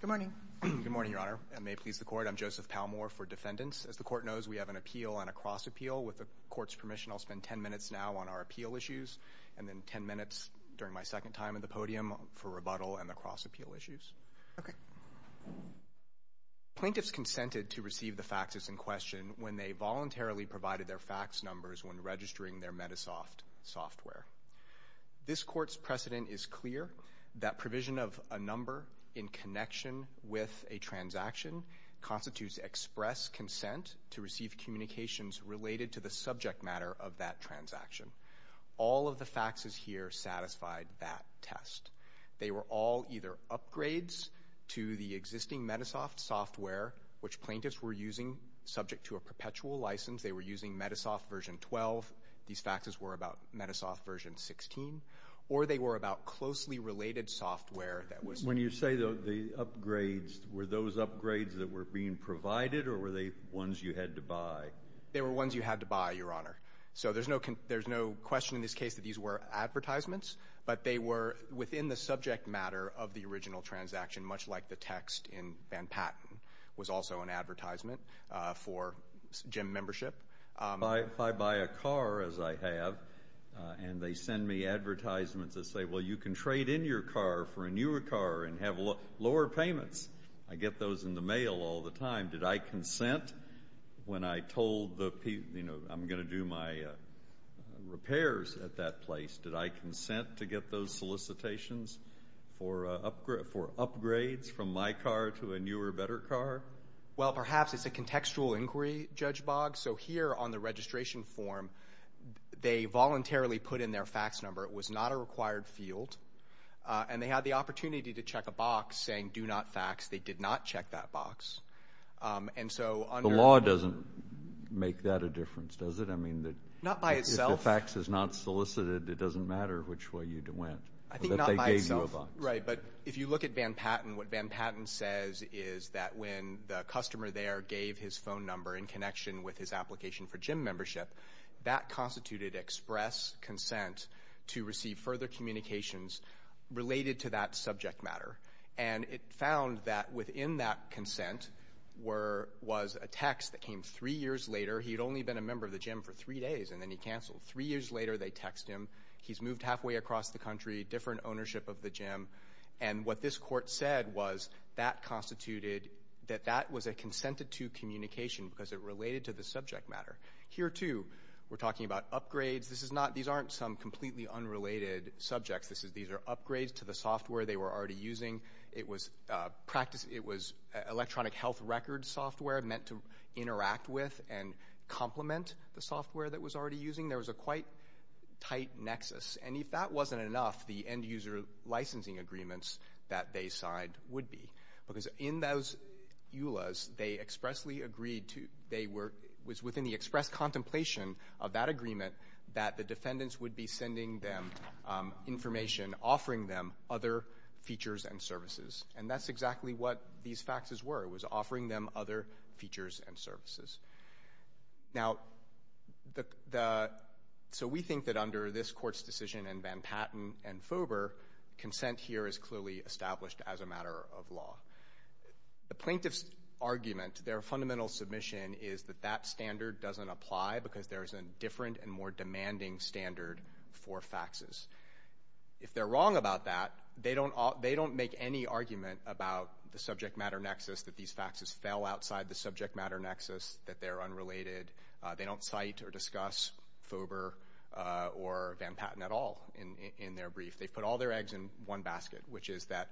Good morning, Your Honor, and may it please the Court, I'm Joseph Palmore for Defendants. As the Court knows, we have an appeal and a cross-appeal. With the Court's permission, I'll spend ten minutes now on our appeal issues, and then ten minutes during my second time at the podium for rebuttal and the cross-appeal issues. Plaintiffs consented to receive the faxes in question when they voluntarily provided their fax numbers when registering their Medisoft software. This Court's precedent is clear that provision of a number in connection with a transaction constitutes express consent to receive communications related to the subject matter of that transaction. All of the faxes here satisfied that test. They were all either upgrades to the existing Metasoft software, which plaintiffs were using subject to a perpetual license. They were using Metasoft version 12. These faxes were about Metasoft version 16. Or they were about closely related software that was... When you say the upgrades, were those upgrades that were being provided, or were they ones you had to buy? They were ones you had to buy, Your Honor. So there's no question in this case that these were advertisements, but they were within the subject matter of the original transaction, much like the text in Van Patten was also an advertisement for GEM membership. If I buy a car, as I have, and they send me advertisements that say, well, you can trade in your car for a newer car and have lower payments. I get those in the mail all the time. Did I consent when I told the people, you know, I'm going to do my repairs at that place, did I consent to get those solicitations for upgrades from my car to a newer, better car? Well, perhaps it's a contextual inquiry, Judge Boggs. So here on the registration form, they voluntarily put in their fax number. It was not a required field. And they had the opportunity to check a box saying do not fax. They did not check that box. And so under... The law doesn't make that a difference, does it? Not by itself. If a fax is not solicited, it doesn't matter which way you went. I think not by itself. Right, but if you look at Van Patten, what Van Patten says is that when the customer there gave his phone number in connection with his application for GEM membership, that constituted express consent to receive further communications related to that subject matter. And it found that within that consent was a text that came three years later. He had only been a member of the GEM for three days, and then he canceled. Three years later, they text him. He's moved halfway across the country, different ownership of the GEM. And what this court said was that constituted that that was a consented-to communication because it related to the subject matter. Here, too, we're talking about upgrades. These aren't some completely unrelated subjects. These are upgrades to the software they were already using. It was electronic health record software meant to interact with, and complement the software that was already using. There was a quite tight nexus. And if that wasn't enough, the end-user licensing agreements that they signed would be. Because in those EULAs, they expressly agreed to they were within the express contemplation of that agreement that the defendants would be sending them information, offering them other features and services. And that's exactly what these faxes were. It was offering them other features and services. Now, so we think that under this court's decision and Van Patten and Fover, consent here is clearly established as a matter of law. The plaintiff's argument, their fundamental submission, is that that standard doesn't apply because there is a different and more demanding standard for faxes. If they're wrong about that, they don't make any argument about the subject matter nexus, that these faxes fell outside the subject matter nexus, that they're unrelated. They don't cite or discuss Fover or Van Patten at all in their brief. They've put all their eggs in one basket, which is that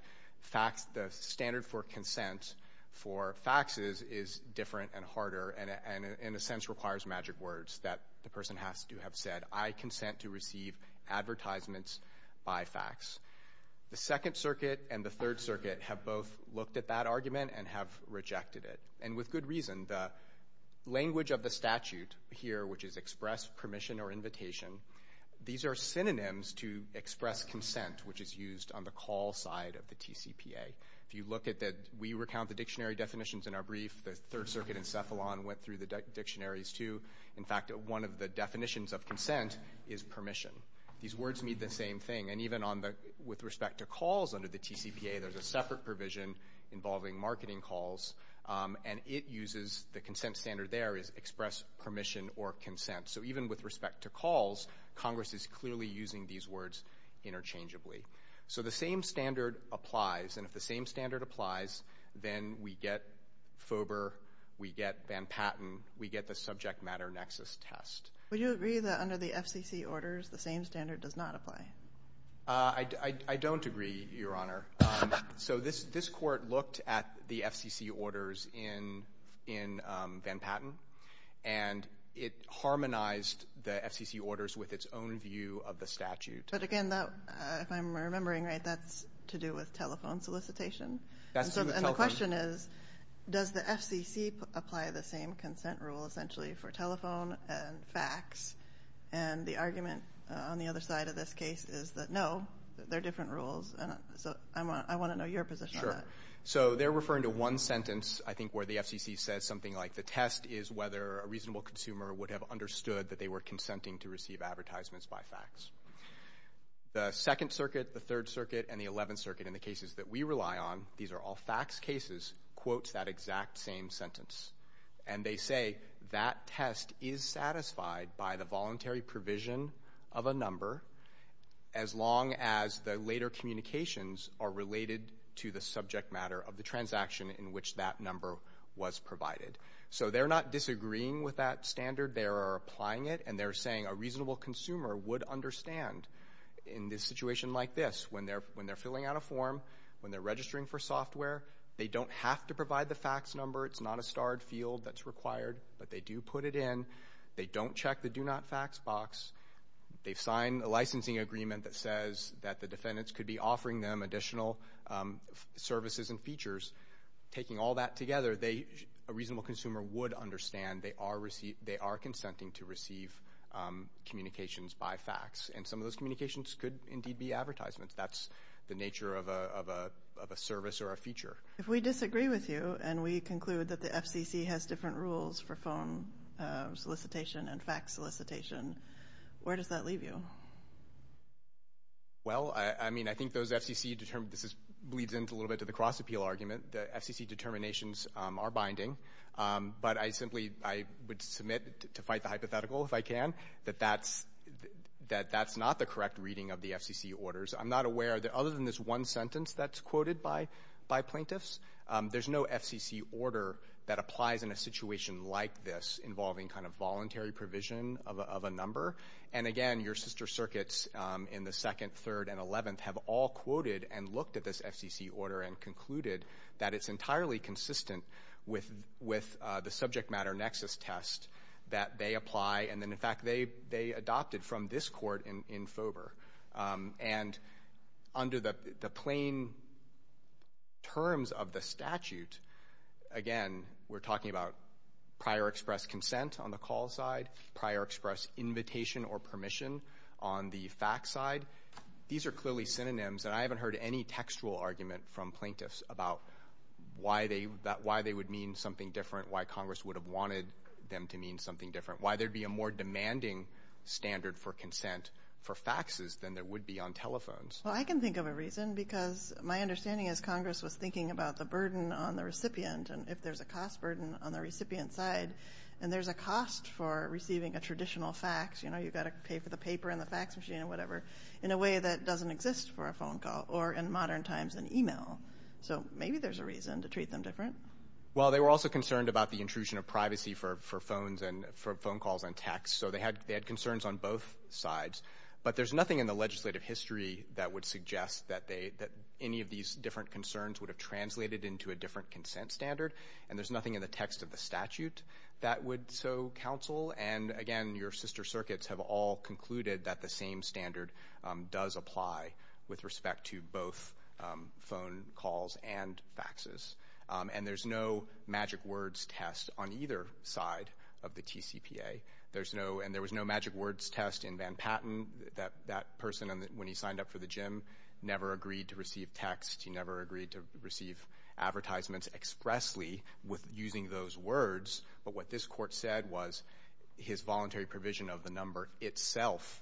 the standard for consent for faxes is different and harder, and in a sense requires magic words that the person has to have said, I consent to receive advertisements by fax. The Second Circuit and the Third Circuit have both looked at that argument and have rejected it, and with good reason. The language of the statute here, which is express permission or invitation, these are synonyms to express consent, which is used on the call side of the TCPA. If you look at that we recount the dictionary definitions in our brief, the Third Circuit and Cephalon went through the dictionaries too. In fact, one of the definitions of consent is permission. These words mean the same thing, and even with respect to calls under the TCPA, there's a separate provision involving marketing calls, and the consent standard there is express permission or consent. So even with respect to calls, Congress is clearly using these words interchangeably. So the same standard applies, and if the same standard applies, then we get FOBR, we get Van Patten, we get the subject matter nexus test. Would you agree that under the FCC orders the same standard does not apply? I don't agree, Your Honor. So this court looked at the FCC orders in Van Patten, and it harmonized the FCC orders with its own view of the statute. But again, if I'm remembering right, that's to do with telephone solicitation? That's to do with telephone. And the question is, does the FCC apply the same consent rule essentially for telephone and fax? And the argument on the other side of this case is that, no, they're different rules. So I want to know your position on that. Sure. So they're referring to one sentence, I think, where the FCC says something like, the test is whether a reasonable consumer would have understood that they were consenting to receive advertisements by fax. The Second Circuit, the Third Circuit, and the Eleventh Circuit in the cases that we rely on, these are all fax cases, quotes that exact same sentence. And they say that test is satisfied by the voluntary provision of a number as long as the later communications are related to the subject matter of the transaction in which that number was provided. So they're not disagreeing with that standard. They are applying it, and they're saying a reasonable consumer would understand in this situation like this. When they're filling out a form, when they're registering for software, they don't have to provide the fax number. It's not a starred field that's required, but they do put it in. They don't check the do not fax box. They've signed a licensing agreement that says that the defendants could be offering them additional services and features. Taking all that together, a reasonable consumer would understand they are consenting to receive communications by fax. And some of those communications could indeed be advertisements. That's the nature of a service or a feature. If we disagree with you and we conclude that the FCC has different rules for phone solicitation and fax solicitation, where does that leave you? Well, I mean, I think those FCC determines this leads into a little bit of the cross-appeal argument. The FCC determinations are binding. But I simply would submit to fight the hypothetical if I can that that's not the correct reading of the FCC orders. I'm not aware that other than this one sentence that's quoted by plaintiffs, there's no FCC order that applies in a situation like this involving kind of voluntary provision of a number. And, again, your sister circuits in the 2nd, 3rd, and 11th have all quoted and looked at this FCC order and concluded that it's entirely consistent with the subject matter nexus test that they apply. And then, in fact, they adopted from this court in FOBR. And under the plain terms of the statute, again, we're talking about prior express consent on the call side, prior express invitation or permission on the fax side. These are clearly synonyms. And I haven't heard any textual argument from plaintiffs about why they would mean something different, why Congress would have wanted them to mean something different, why there would be a more demanding standard for consent for faxes than there would be on telephones. Well, I can think of a reason because my understanding is Congress was thinking about the burden on the recipient and if there's a cost burden on the recipient side and there's a cost for receiving a traditional fax, you know, you've got to pay for the paper and the fax machine and whatever, in a way that doesn't exist for a phone call or, in modern times, an e-mail. So maybe there's a reason to treat them different. Well, they were also concerned about the intrusion of privacy for phones and for phone calls and texts. So they had concerns on both sides. But there's nothing in the legislative history that would suggest that any of these different concerns would have translated into a different consent standard. And there's nothing in the text of the statute that would so counsel. And, again, your sister circuits have all concluded that the same standard does apply with respect to both phone calls and faxes. And there's no magic words test on either side of the TCPA. And there was no magic words test in Van Patten. That person, when he signed up for the gym, never agreed to receive text. He never agreed to receive advertisements expressly using those words. But what this court said was his voluntary provision of the number itself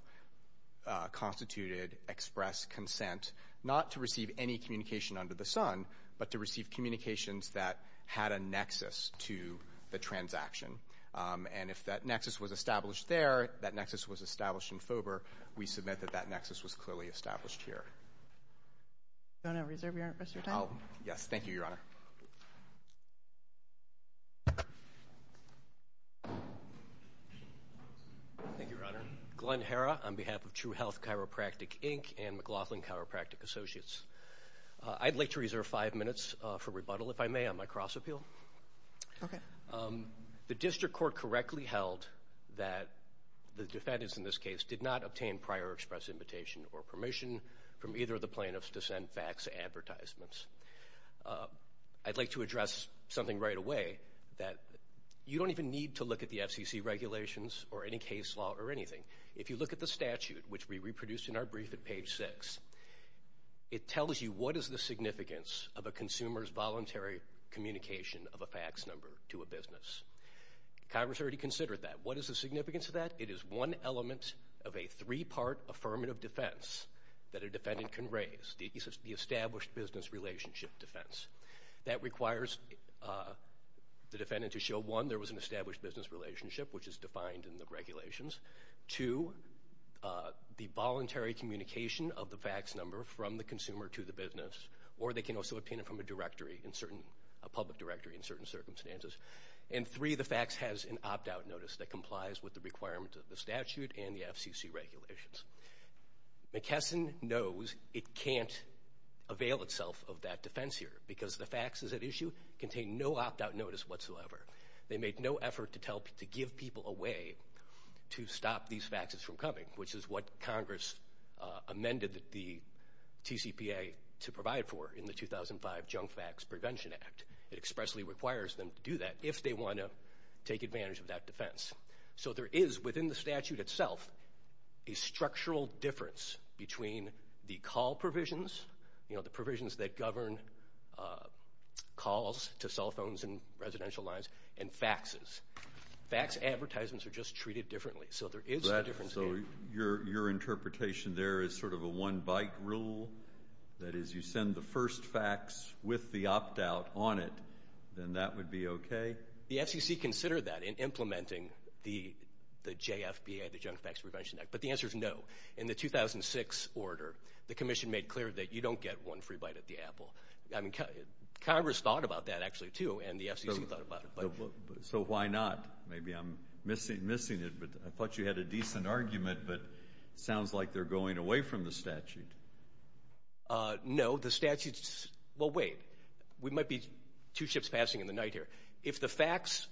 constituted express consent, not to receive any communication under the sun, but to receive communications that had a nexus to the transaction. And if that nexus was established there, that nexus was established in Fober, we submit that that nexus was clearly established here. Do you want to reserve your rest of your time? Yes, thank you, Your Honor. Thank you, Your Honor. Glenn Herra on behalf of True Health Chiropractic, Inc. and McLaughlin Chiropractic Associates. I'd like to reserve five minutes for rebuttal, if I may, on my cross appeal. Okay. The district court correctly held that the defendants in this case did not obtain prior express invitation or permission from either of the plaintiffs to send fax advertisements. I'd like to address something right away, that you don't even need to look at the FCC regulations or any case law or anything. If you look at the statute, which we reproduced in our brief at page six, it tells you what is the significance of a consumer's voluntary communication of a fax number to a business. Congress already considered that. What is the significance of that? It is one element of a three-part affirmative defense that a defendant can raise, the established business relationship defense. That requires the defendant to show, one, there was an established business relationship, which is defined in the regulations. Two, the voluntary communication of the fax number from the consumer to the business, or they can also obtain it from a public directory in certain circumstances. And three, the fax has an opt-out notice that complies with the requirements of the statute and the FCC regulations. McKesson knows it can't avail itself of that defense here, because the faxes at issue contain no opt-out notice whatsoever. They made no effort to give people a way to stop these faxes from coming, which is what Congress amended the TCPA to provide for in the 2005 Junk Fax Prevention Act. It expressly requires them to do that if they want to take advantage of that defense. So there is, within the statute itself, a structural difference between the call provisions, you know, the provisions that govern calls to cell phones and residential lines, and faxes. Fax advertisements are just treated differently. So there is a difference there. So your interpretation there is sort of a one-bite rule? That is, you send the first fax with the opt-out on it, then that would be okay? The FCC considered that in implementing the JFPA, the Junk Fax Prevention Act, but the answer is no. In the 2006 order, the commission made clear that you don't get one free bite at the apple. I mean, Congress thought about that, actually, too, and the FCC thought about it. So why not? Maybe I'm missing it, but I thought you had a decent argument, but it sounds like they're going away from the statute. No, the statute's – well, wait. We might be two ships passing in the night here. If the fax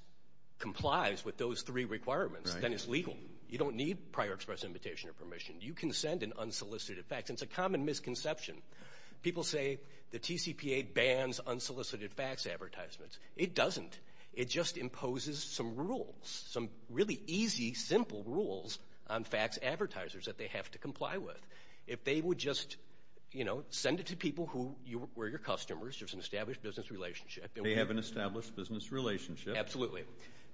complies with those three requirements, then it's legal. You don't need prior express invitation or permission. You can send an unsolicited fax. It's a common misconception. People say the TCPA bans unsolicited fax advertisements. It doesn't. It just imposes some rules, some really easy, simple rules on fax advertisers that they have to comply with. If they would just, you know, send it to people who were your customers, there's an established business relationship. They have an established business relationship. Absolutely.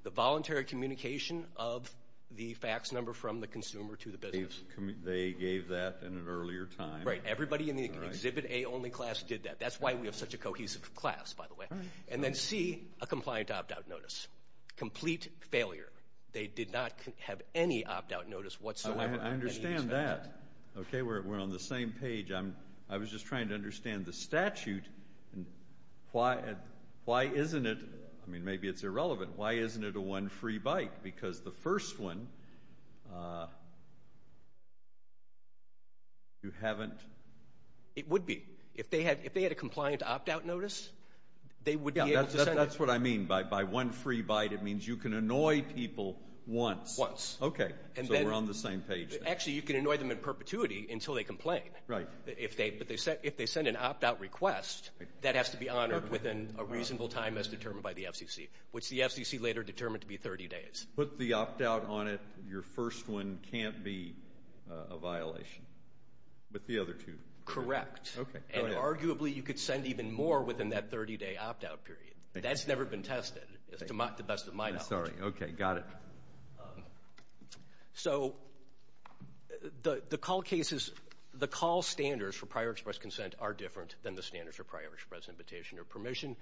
The voluntary communication of the fax number from the consumer to the business. They gave that in an earlier time. Right. Everybody in the Exhibit A only class did that. That's why we have such a cohesive class, by the way. And then C, a compliant opt-out notice. Complete failure. They did not have any opt-out notice whatsoever. I understand that. Okay, we're on the same page. I was just trying to understand the statute. Why isn't it – I mean, maybe it's irrelevant. Why isn't it a one-free bike? Because the first one, you haven't – It would be. If they had a compliant opt-out notice, they would be able to send it. That's what I mean. By one free bite, it means you can annoy people once. Once. Okay. So we're on the same page. Actually, you can annoy them in perpetuity until they complain. Right. But if they send an opt-out request, that has to be honored within a reasonable time as determined by the FCC, which the FCC later determined to be 30 days. Put the opt-out on it. Your first one can't be a violation. With the other two. Correct. Okay, go ahead. And arguably you could send even more within that 30-day opt-out period. That's never been tested, to the best of my knowledge. I'm sorry. Okay, got it. So the call cases – the call standards for prior express consent are different than the standards for prior express invitation or permission.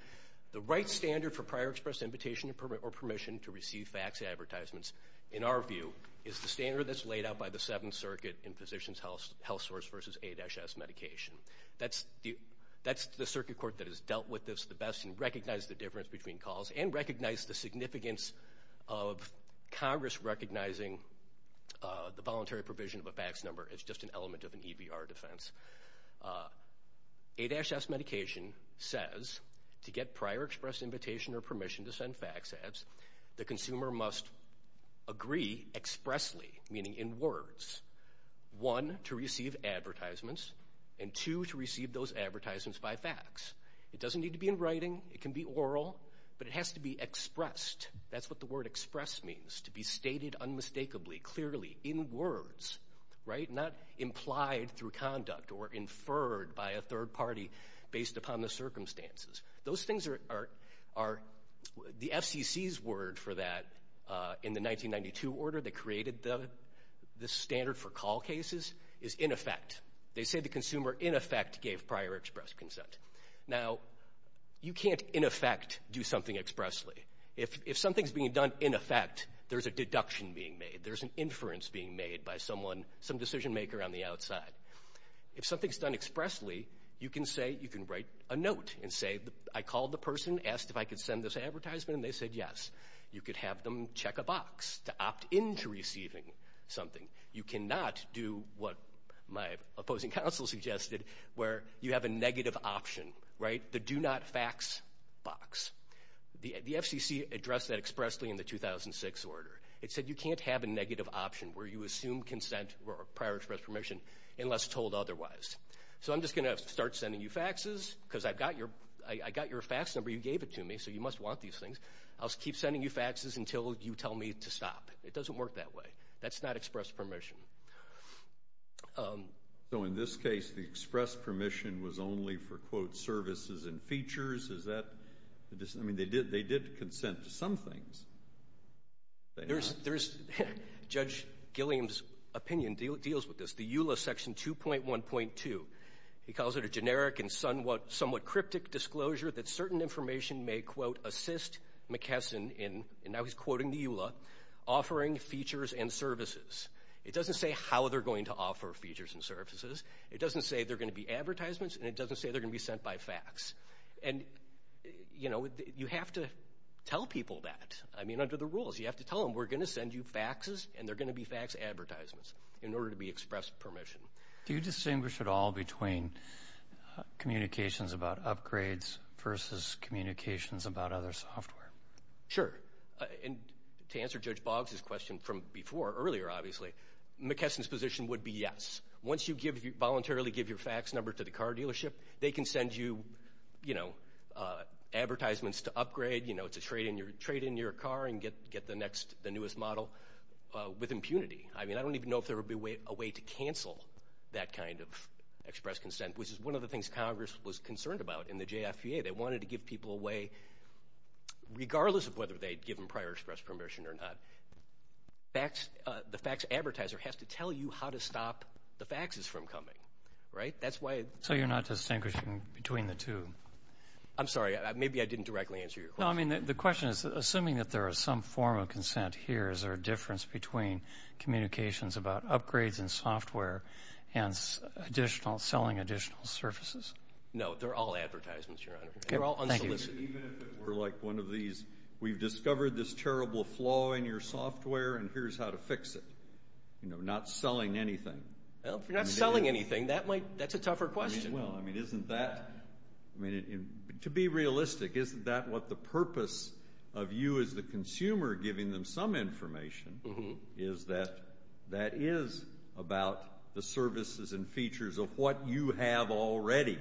The right standard for prior express invitation or permission to receive fax advertisements, in our view, is the standard that's laid out by the Seventh Circuit in physician's health source versus A-S medication. That's the circuit court that has dealt with this the best and recognized the difference between calls and recognized the significance of Congress recognizing the voluntary provision of a fax number as just an element of an EBR defense. A-S medication says to get prior express invitation or permission to send fax ads, the consumer must agree expressly, meaning in words, one, to receive advertisements, and two, to receive those advertisements by fax. It doesn't need to be in writing. It can be oral. But it has to be expressed. That's what the word express means, to be stated unmistakably, clearly, in words, right, not implied through conduct or inferred by a third party based upon the circumstances. Those things are the FCC's word for that in the 1992 order that created the standard for call cases is in effect. They say the consumer in effect gave prior express consent. Now, you can't in effect do something expressly. If something's being done in effect, there's a deduction being made. There's an inference being made by someone, some decision maker on the outside. If something's done expressly, you can say you can write a note and say, I called the person, asked if I could send this advertisement, and they said yes. You could have them check a box to opt in to receiving something. You cannot do what my opposing counsel suggested where you have a negative option, right, the do not fax box. The FCC addressed that expressly in the 2006 order. It said you can't have a negative option where you assume consent or prior express permission unless told otherwise. So I'm just going to start sending you faxes because I've got your fax number. You gave it to me, so you must want these things. I'll keep sending you faxes until you tell me to stop. It doesn't work that way. That's not express permission. So in this case, the express permission was only for, quote, services and features. I mean, they did consent to some things. Judge Gilliam's opinion deals with this. The EULA Section 2.1.2, he calls it a generic and somewhat cryptic disclosure that certain information may, quote, assist McKesson in, and now he's quoting the EULA, offering features and services. It doesn't say how they're going to offer features and services. It doesn't say they're going to be advertisements, and it doesn't say they're going to be sent by fax. And, you know, you have to tell people that. I mean, under the rules, you have to tell them we're going to send you faxes and they're going to be fax advertisements in order to be expressed permission. Do you distinguish at all between communications about upgrades versus communications about other software? Sure. And to answer Judge Boggs' question from before, earlier, obviously, McKesson's position would be yes. Once you voluntarily give your fax number to the car dealership, they can send you, you know, advertisements to upgrade, you know, to trade in your car and get the next, the newest model with impunity. I mean, I don't even know if there would be a way to cancel that kind of express consent, which is one of the things Congress was concerned about in the JFPA. They wanted to give people a way, regardless of whether they had given prior express permission or not, the fax advertiser has to tell you how to stop the faxes from coming, right? So you're not distinguishing between the two? I'm sorry, maybe I didn't directly answer your question. No, I mean, the question is, assuming that there is some form of consent here, is there a difference between communications about upgrades and software and additional, selling additional services? No, they're all advertisements, Your Honor. They're all unsolicited. Thank you. Even if it were like one of these, we've discovered this terrible flaw in your software and here's how to fix it. You know, not selling anything. Well, if you're not selling anything, that's a tougher question. Well, I mean, isn't that, to be realistic, isn't that what the purpose of you as the consumer giving them some information is that that is about the services and features of what you have already?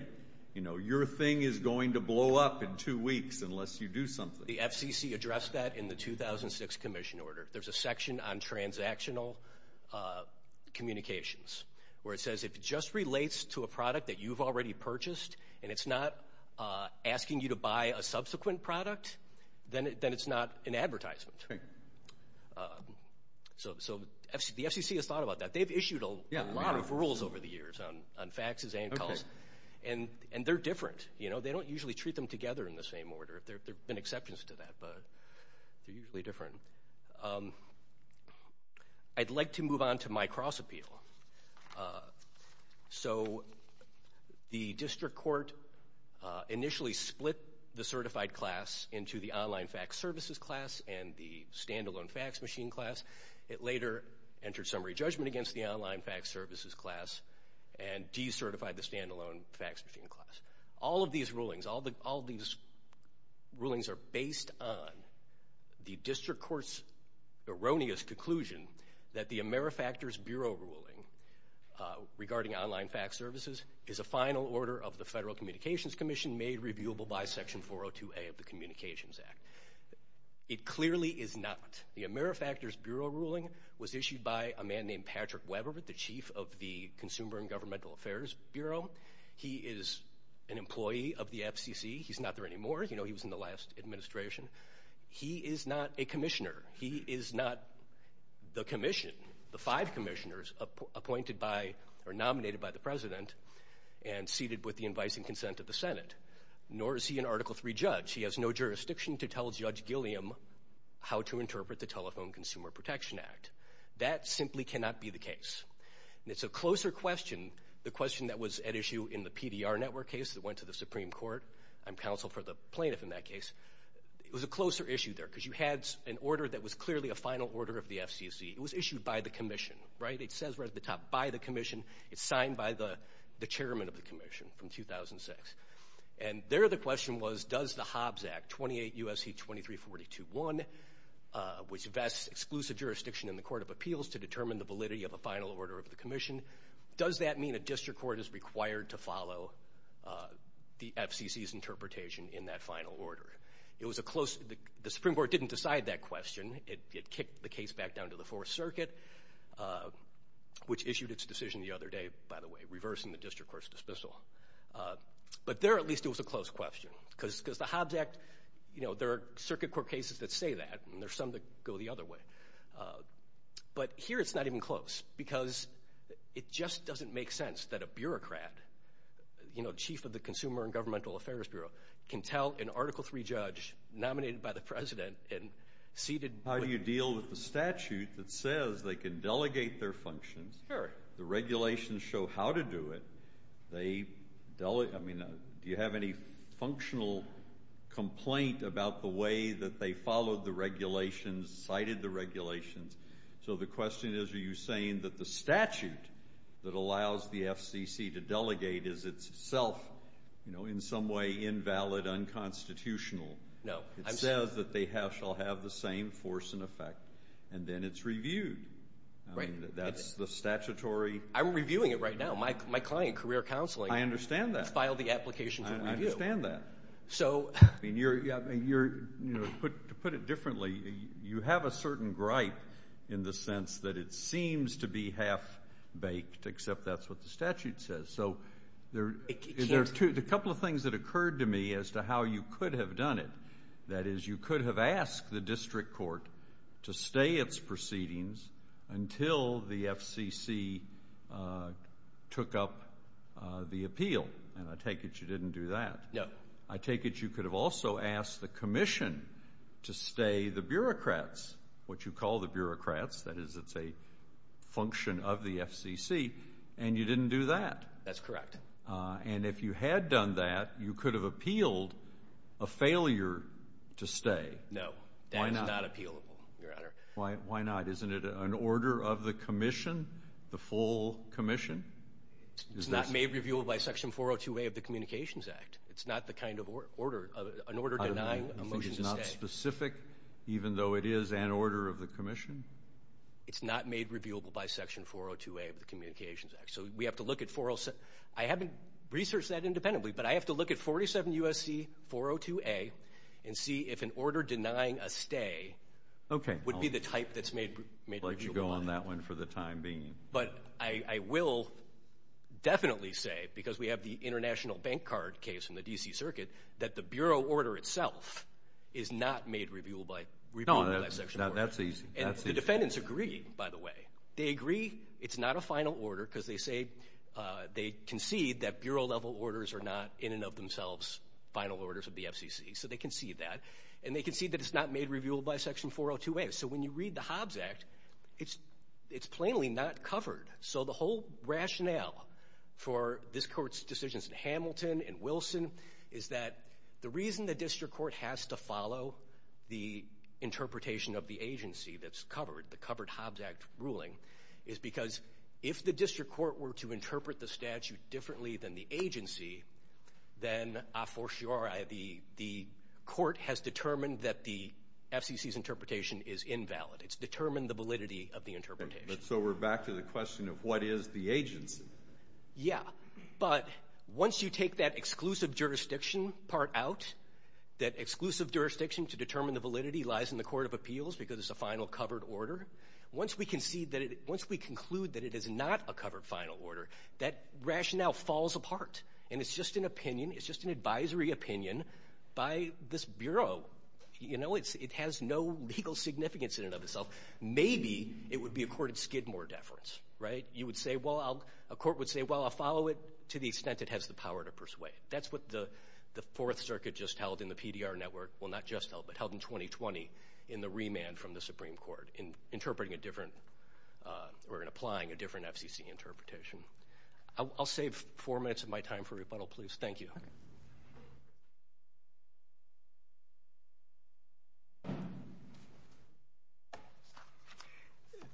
You know, your thing is going to blow up in two weeks unless you do something. The FCC addressed that in the 2006 commission order. There's a section on transactional communications where it says, if it just relates to a product that you've already purchased and it's not asking you to buy a subsequent product, then it's not an advertisement. So the FCC has thought about that. They've issued a lot of rules over the years on faxes and calls, and they're different. They don't usually treat them together in the same order. There have been exceptions to that, but they're usually different. I'd like to move on to my cross-appeal. So the district court initially split the certified class into the online fax services class and the standalone fax machine class. It later entered summary judgment against the online fax services class and decertified the standalone fax machine class. All of these rulings are based on the district court's erroneous conclusion that the AmeriFactors Bureau ruling regarding online fax services is a final order of the Federal Communications Commission made reviewable by Section 402A of the Communications Act. It clearly is not. The AmeriFactors Bureau ruling was issued by a man named Patrick Weber, the chief of the Consumer and Governmental Affairs Bureau. He is an employee of the FCC. He's not there anymore. You know, he was in the last administration. He is not a commissioner. He is not the commission, the five commissioners appointed by or nominated by the president and seated with the advice and consent of the Senate. Nor is he an Article III judge. He has no jurisdiction to tell Judge Gilliam how to interpret the Telephone Consumer Protection Act. That simply cannot be the case. It's a closer question, the question that was at issue in the PDR network case that went to the Supreme Court. I'm counsel for the plaintiff in that case. It was a closer issue there because you had an order that was clearly a final order of the FCC. It was issued by the commission, right? It says right at the top, by the commission. It's signed by the chairman of the commission from 2006. And there the question was, does the Hobbs Act, 28 U.S.C. 2342.1, which vests exclusive jurisdiction in the Court of Appeals to determine the validity of a final order of the commission, does that mean a district court is required to follow the FCC's interpretation in that final order? The Supreme Court didn't decide that question. It kicked the case back down to the Fourth Circuit, which issued its decision the other day, by the way, reversing the district court's dismissal. But there at least it was a close question because the Hobbs Act, you know, there are circuit court cases that say that, and there are some that go the other way. But here it's not even close because it just doesn't make sense that a bureaucrat, you know, chief of the Consumer and Governmental Affairs Bureau, can tell an Article III judge nominated by the president and seated. How do you deal with the statute that says they can delegate their functions? Sure. The regulations show how to do it. I mean, do you have any functional complaint about the way that they followed the regulations, cited the regulations? So the question is, are you saying that the statute that allows the FCC to delegate is itself, you know, in some way invalid, unconstitutional? No. It says that they shall have the same force and effect, and then it's reviewed. I mean, that's the statutory. I'm reviewing it right now. My client, career counseling. I understand that. Filed the application for review. I understand that. So. I mean, to put it differently, you have a certain gripe in the sense that it seems to be half-baked, except that's what the statute says. So there are a couple of things that occurred to me as to how you could have done it. That is, you could have asked the district court to stay its proceedings until the FCC took up the appeal. And I take it you didn't do that. No. I take it you could have also asked the commission to stay the bureaucrats, what you call the bureaucrats. That is, it's a function of the FCC. And you didn't do that. That's correct. And if you had done that, you could have appealed a failure to stay. No. Why not? That is not appealable, Your Honor. Why not? Isn't it an order of the commission, the full commission? It's not made reviewable by Section 402A of the Communications Act. It's not the kind of order, an order denying a motion to stay. You think it's not specific, even though it is an order of the commission? It's not made reviewable by Section 402A of the Communications Act. So we have to look at 407. I haven't researched that independently, but I have to look at 47 U.S.C. 402A and see if an order denying a stay would be the type that's made reviewable. I'll let you go on that one for the time being. But I will definitely say, because we have the international bank card case from the D.C. Circuit, that the bureau order itself is not made reviewable by Section 402A. No, that's easy. And the defendants agree, by the way. They agree it's not a final order because they say they concede that bureau-level orders are not in and of themselves final orders of the FCC. So they concede that. And they concede that it's not made reviewable by Section 402A. So when you read the Hobbs Act, it's plainly not covered. So the whole rationale for this court's decisions in Hamilton and Wilson is that the reason the district court has to follow the interpretation of the agency that's covered, the covered Hobbs Act ruling, is because if the district court were to interpret the statute differently than the agency, then a fortiori the court has determined that the FCC's interpretation is invalid. It's determined the validity of the interpretation. So we're back to the question of what is the agency? Yeah. But once you take that exclusive jurisdiction part out, that exclusive jurisdiction to determine the validity lies in the court of appeals because it's a final covered order, once we conclude that it is not a covered final order, that rationale falls apart. And it's just an opinion. It's just an advisory opinion by this bureau. You know, it has no legal significance in and of itself. Maybe it would be a court of Skidmore deference, right? You would say, well, a court would say, well, I'll follow it to the extent it has the power to persuade. That's what the Fourth Circuit just held in the PDR network. Well, not just held, but held in 2020 in the remand from the Supreme Court in interpreting a different or in applying a different FCC interpretation. I'll save four minutes of my time for rebuttal, please. Thank you.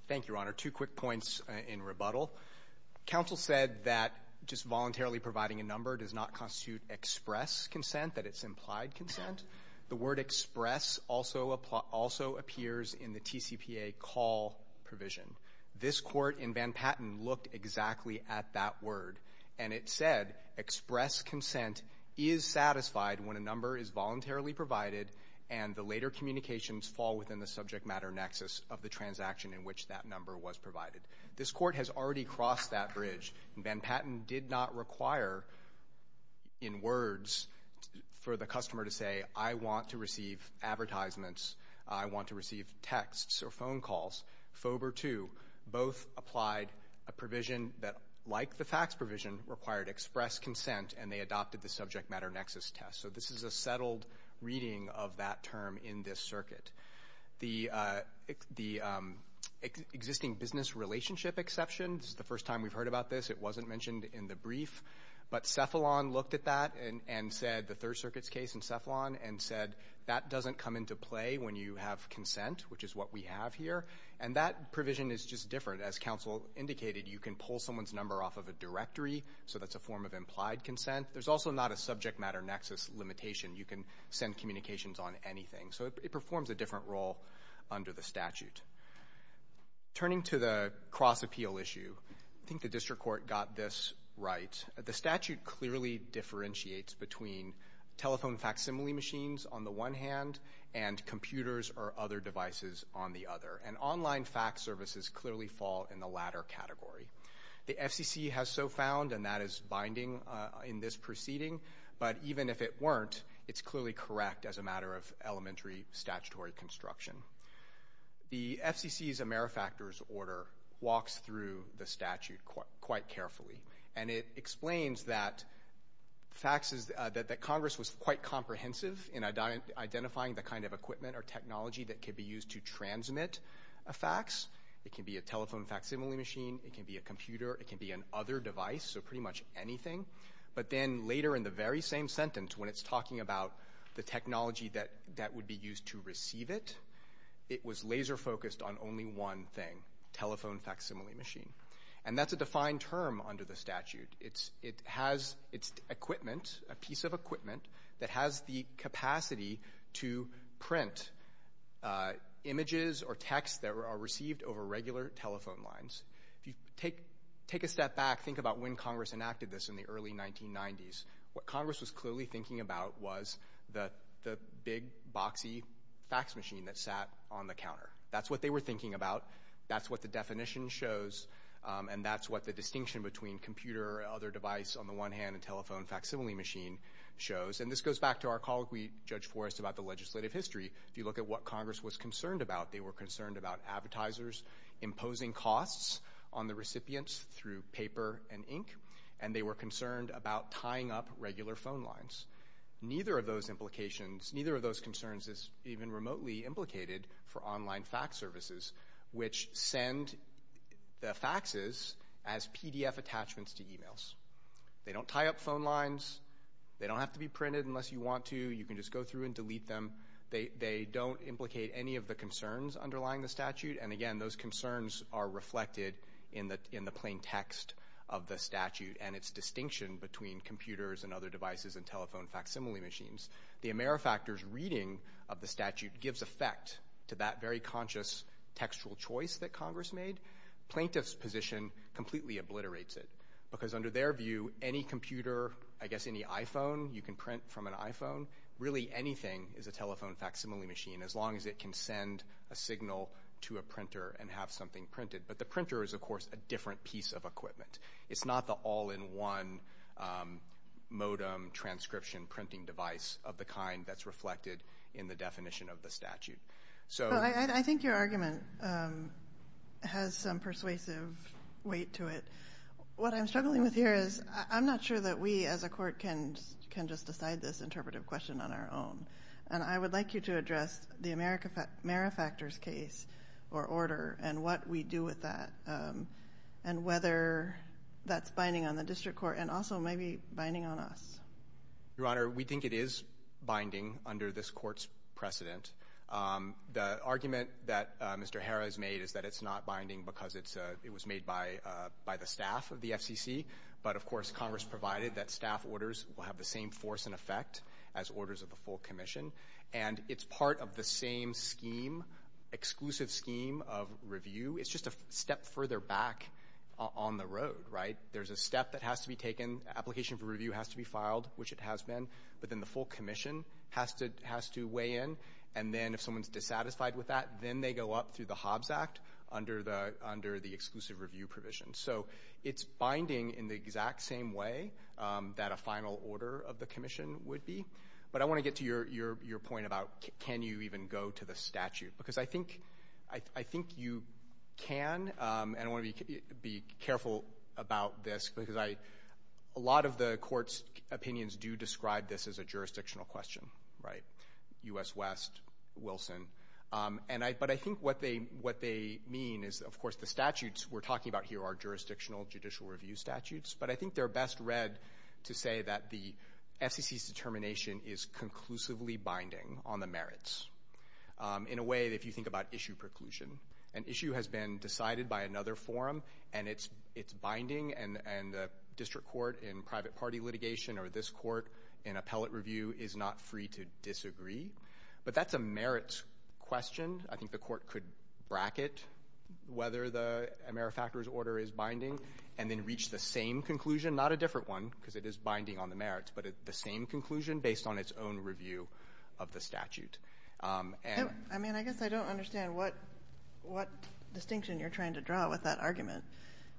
Thank you, Your Honor. Two quick points in rebuttal. Counsel said that just voluntarily providing a number does not constitute express consent, that it's implied consent. The word express also appears in the TCPA call provision. This court in Van Patten looked exactly at that word. And it said express consent is satisfied when a number is voluntarily provided and the later communications fall within the subject matter nexus of the transaction in which that number was provided. This court has already crossed that bridge. And Van Patten did not require in words for the customer to say, I want to receive advertisements, I want to receive texts or phone calls. FOBR 2 both applied a provision that, like the fax provision, required express consent, and they adopted the subject matter nexus test. So this is a settled reading of that term in this circuit. The existing business relationship exception, this is the first time we've heard about this. It wasn't mentioned in the brief. But Cephalon looked at that and said, the Third Circuit's case in Cephalon, and said that doesn't come into play when you have consent, which is what we have here. And that provision is just different. As counsel indicated, you can pull someone's number off of a directory, so that's a form of implied consent. There's also not a subject matter nexus limitation. You can send communications on anything. So it performs a different role under the statute. Turning to the cross-appeal issue, I think the district court got this right. The statute clearly differentiates between telephone facsimile machines on the one hand and computers or other devices on the other. And online fax services clearly fall in the latter category. The FCC has so found, and that is binding in this proceeding. But even if it weren't, it's clearly correct as a matter of elementary statutory construction. The FCC's AmeriFactors order walks through the statute quite carefully. And it explains that Congress was quite comprehensive in identifying the kind of equipment or technology that could be used to transmit a fax. It can be a telephone facsimile machine. It can be a computer. It can be an other device, so pretty much anything. But then later in the very same sentence, when it's talking about the technology that would be used to receive it, it was laser-focused on only one thing, telephone facsimile machine. And that's a defined term under the statute. It has equipment, a piece of equipment that has the capacity to print images or text that are received over regular telephone lines. If you take a step back, think about when Congress enacted this in the early 1990s, what Congress was clearly thinking about was the big, boxy fax machine that sat on the counter. That's what they were thinking about. That's what the definition shows. And that's what the distinction between computer or other device on the one hand and telephone facsimile machine shows. And this goes back to our colleague, Judge Forrest, about the legislative history. If you look at what Congress was concerned about, they were concerned about advertisers imposing costs on the recipients through paper and ink, and they were concerned about tying up regular phone lines. Neither of those concerns is even remotely implicated for online fax services, which send the faxes as PDF attachments to e-mails. They don't tie up phone lines. They don't have to be printed unless you want to. You can just go through and delete them. They don't implicate any of the concerns underlying the statute. And, again, those concerns are reflected in the plain text of the statute and its distinction between computers and other devices and telephone facsimile machines. The Amerifactor's reading of the statute gives effect to that very conscious textual choice that Congress made. Plaintiff's position completely obliterates it, because under their view, any computer, I guess any iPhone you can print from an iPhone, really anything is a telephone facsimile machine, as long as it can send a signal to a printer and have something printed. But the printer is, of course, a different piece of equipment. It's not the all-in-one modem transcription printing device of the kind that's reflected in the definition of the statute. I think your argument has some persuasive weight to it. What I'm struggling with here is I'm not sure that we as a court can just decide this interpretive question on our own. And I would like you to address the Amerifactor's case or order and what we do with that and whether that's binding on the district court and also maybe binding on us. Your Honor, we think it is binding under this court's precedent. The argument that Mr. Harris made is that it's not binding because it was made by the staff of the FCC. But, of course, Congress provided that staff orders will have the same force and effect as orders of the full commission. And it's part of the same scheme, exclusive scheme of review. It's just a step further back on the road, right? There's a step that has to be taken. Application for review has to be filed, which it has been. But then the full commission has to weigh in. And then if someone's dissatisfied with that, then they go up through the Hobbs Act under the exclusive review provision. So it's binding in the exact same way that a final order of the commission would be. But I want to get to your point about can you even go to the statute because I think you can. And I want to be careful about this because a lot of the court's opinions do describe this as a jurisdictional question, right? U.S. West, Wilson. But I think what they mean is, of course, the statutes we're talking about here are jurisdictional judicial review statutes. But I think they're best read to say that the FCC's determination is conclusively binding on the merits. In a way, if you think about issue preclusion, an issue has been decided by another forum, and it's binding. And the district court in private party litigation or this court in appellate review is not free to disagree. But that's a merits question. I think the court could bracket whether the AmeriFactors order is binding and then reach the same conclusion, not a different one, because it is binding on the merits, but the same conclusion based on its own review of the statute. I mean, I guess I don't understand what distinction you're trying to draw with that argument.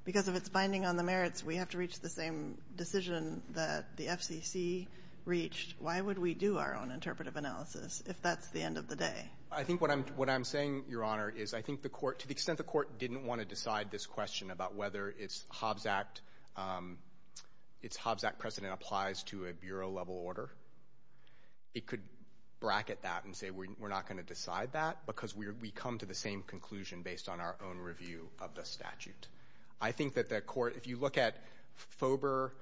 Because if it's binding on the merits, we have to reach the same decision that the FCC reached. Why would we do our own interpretive analysis if that's the end of the day? I think what I'm saying, Your Honor, is I think the court, to the extent the court didn't want to decide this question about whether its Hobbs Act precedent applies to a bureau-level order, it could bracket that and say we're not going to decide that because we come to the same conclusion based on our own review of the statute. I think that the court, if you look at FOBR,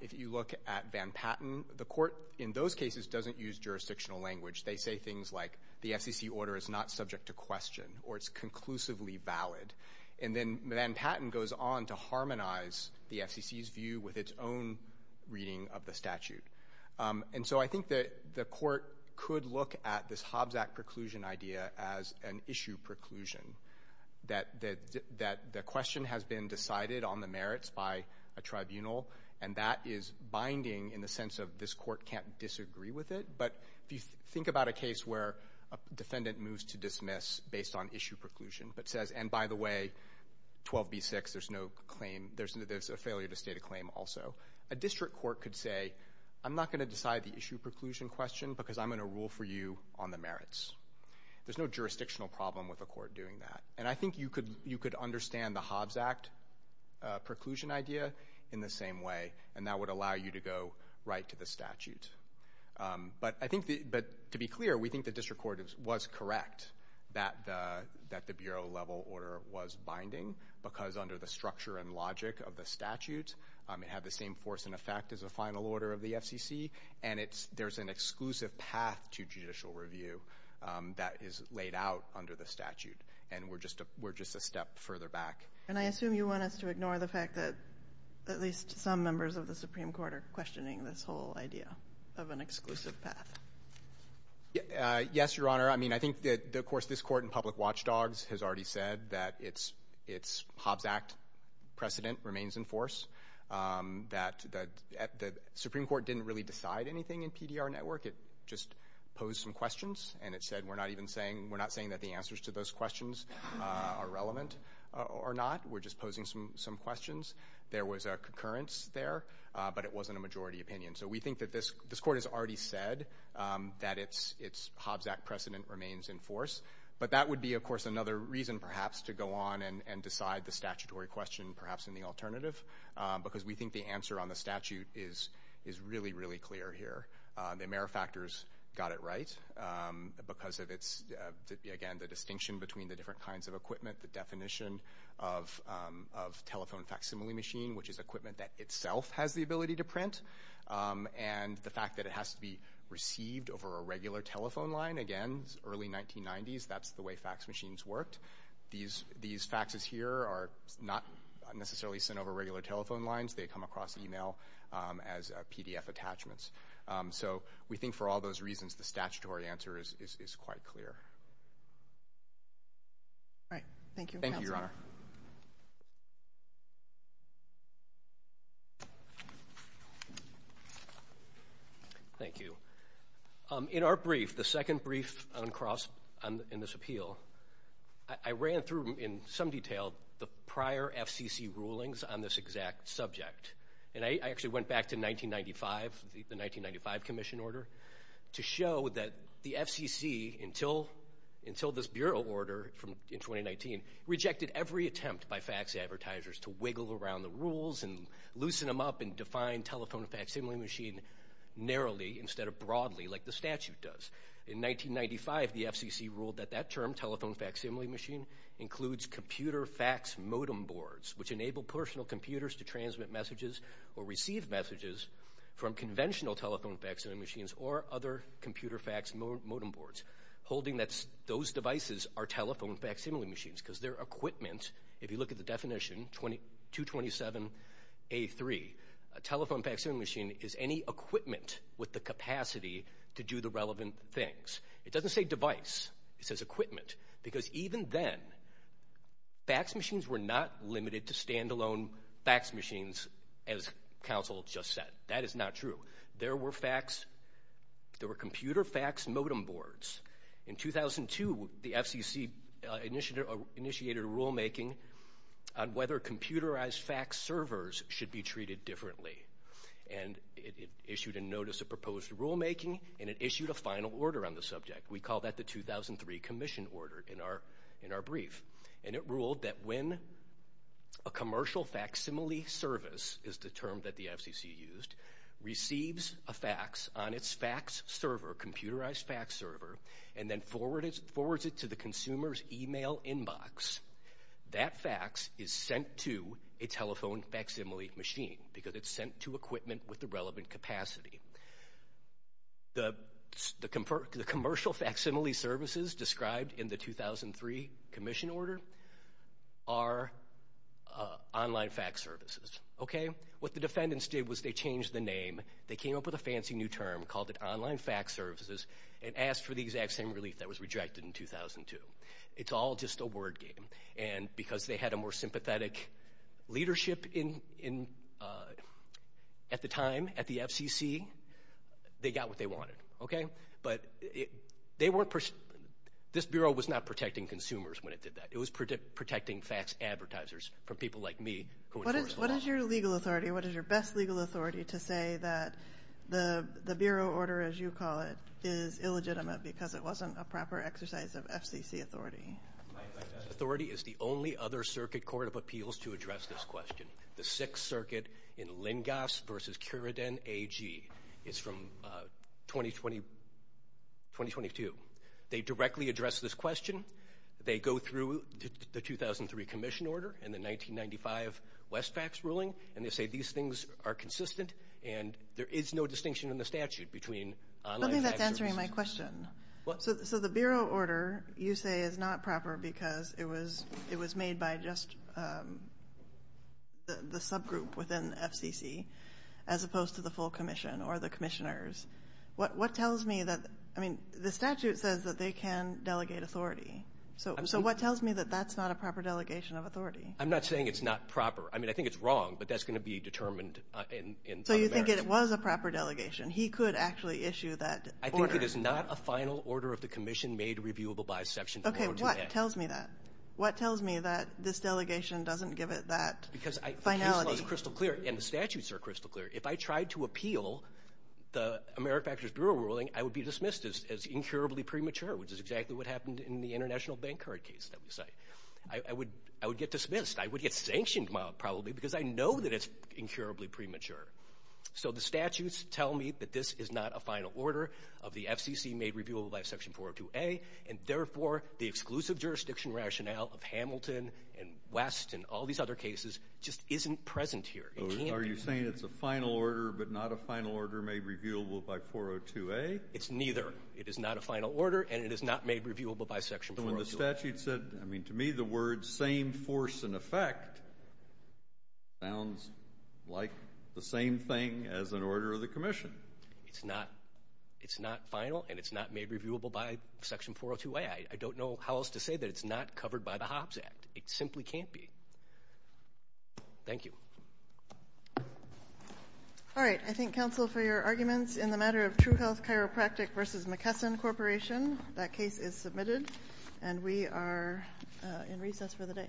if you look at Van Patten, the court in those cases doesn't use jurisdictional language. They say things like the FCC order is not subject to question or it's conclusively valid. And then Van Patten goes on to harmonize the FCC's view with its own reading of the statute. And so I think that the court could look at this Hobbs Act preclusion idea as an issue preclusion, that the question has been decided on the merits by a tribunal, and that is binding in the sense of this court can't disagree with it. But if you think about a case where a defendant moves to dismiss based on issue preclusion but says, and by the way, 12B6, there's a failure to state a claim also, a district court could say I'm not going to decide the issue preclusion question because I'm going to rule for you on the merits. There's no jurisdictional problem with a court doing that. And I think you could understand the Hobbs Act preclusion idea in the same way, and that would allow you to go right to the statute. But to be clear, we think the district court was correct that the bureau level order was binding because under the structure and logic of the statute, it had the same force and effect as a final order of the FCC, and there's an exclusive path to judicial review that is laid out under the statute, and we're just a step further back. And I assume you want us to ignore the fact that at least some members of the Supreme Court are questioning this whole idea of an exclusive path. Yes, Your Honor. I mean, I think that, of course, this court in public watchdogs has already said that its Hobbs Act precedent remains in force, that the Supreme Court didn't really decide anything in PDR network. It just posed some questions, and it said we're not even saying, we're not saying that the answers to those questions are relevant or not. We're just posing some questions. There was a concurrence there, but it wasn't a majority opinion. So we think that this court has already said that its Hobbs Act precedent remains in force, but that would be, of course, another reason perhaps to go on and decide the statutory question perhaps in the alternative because we think the answer on the statute is really, really clear here. The AmeriFactors got it right because of its, again, the distinction between the different kinds of equipment, the definition of telephone facsimile machine, which is equipment that itself has the ability to print, and the fact that it has to be received over a regular telephone line. Again, early 1990s, that's the way fax machines worked. These faxes here are not necessarily sent over regular telephone lines. They come across email as PDF attachments. So we think for all those reasons, the statutory answer is quite clear. All right. Thank you, Counsel. Thank you, Your Honor. Thank you. In our brief, the second brief in this appeal, I ran through in some detail the prior FCC rulings on this exact subject, and I actually went back to 1995, the 1995 commission order, to show that the FCC, until this bureau order in 2019, rejected every attempt by fax advertisers to wiggle around the rules and loosen them up and define telephone facsimile machine narrowly instead of broadly like the statute does. In 1995, the FCC ruled that that term, telephone facsimile machine, includes computer fax modem boards, which enable personal computers to transmit messages or receive messages from conventional telephone facsimile machines or other computer fax modem boards, holding that those devices are telephone facsimile machines because their equipment, if you look at the definition, 227A3, a telephone facsimile machine is any equipment with the capacity to do the relevant things. It doesn't say device. It says equipment. Because even then, fax machines were not limited to stand-alone fax machines, as counsel just said. That is not true. There were computer fax modem boards. In 2002, the FCC initiated a rulemaking on whether computerized fax servers should be treated differently. And it issued a notice of proposed rulemaking, and it issued a final order on the subject. We call that the 2003 commission order in our brief. And it ruled that when a commercial facsimile service, is the term that the FCC used, receives a fax on its fax server, computerized fax server, and then forwards it to the consumer's email inbox, that fax is sent to a telephone facsimile machine because it's sent to equipment with the relevant capacity. The commercial facsimile services described in the 2003 commission order are online fax services. What the defendants did was they changed the name. They came up with a fancy new term, called it online fax services, and asked for the exact same relief that was rejected in 2002. It's all just a word game. And because they had a more sympathetic leadership at the time, at the FCC, they got what they wanted. Okay? But this Bureau was not protecting consumers when it did that. It was protecting fax advertisers from people like me. What is your legal authority? What is your best legal authority to say that the Bureau order, as you call it, is illegitimate because it wasn't a proper exercise of FCC authority? My best authority is the only other circuit court of appeals to address this question. The Sixth Circuit in Lingas v. Curidan AG. It's from 2022. They directly address this question. They go through the 2003 commission order and the 1995 Westfax ruling, and they say these things are consistent and there is no distinction in the statute between online fax services. I don't think that's answering my question. So the Bureau order, you say, is not proper because it was made by just the subgroup within FCC as opposed to the full commission or the commissioners. What tells me that the statute says that they can delegate authority. So what tells me that that's not a proper delegation of authority? I'm not saying it's not proper. I mean, I think it's wrong, but that's going to be determined. He could actually issue that order. I think it is not a final order of the commission made reviewable by section 428. Okay, what tells me that? What tells me that this delegation doesn't give it that finality? Because the case law is crystal clear and the statutes are crystal clear. If I tried to appeal the AmeriFactors Bureau ruling, I would be dismissed as incurably premature, which is exactly what happened in the international bank card case that we cite. I would get dismissed. I would get sanctioned probably because I know that it's incurably premature. So the statutes tell me that this is not a final order of the FCC made reviewable by section 402A, and therefore the exclusive jurisdiction rationale of Hamilton and West and all these other cases just isn't present here. Are you saying it's a final order but not a final order made reviewable by 402A? It's neither. It is not a final order, and it is not made reviewable by section 402A. So when the statute said, I mean, to me the words same force and effect sounds like the same thing as an order of the commission. It's not final, and it's not made reviewable by section 402A. I don't know how else to say that it's not covered by the Hobbs Act. It simply can't be. Thank you. All right, I thank counsel for your arguments. In the matter of True Health Chiropractic v. McKesson Corporation, that case is submitted, and we are in recess for the day.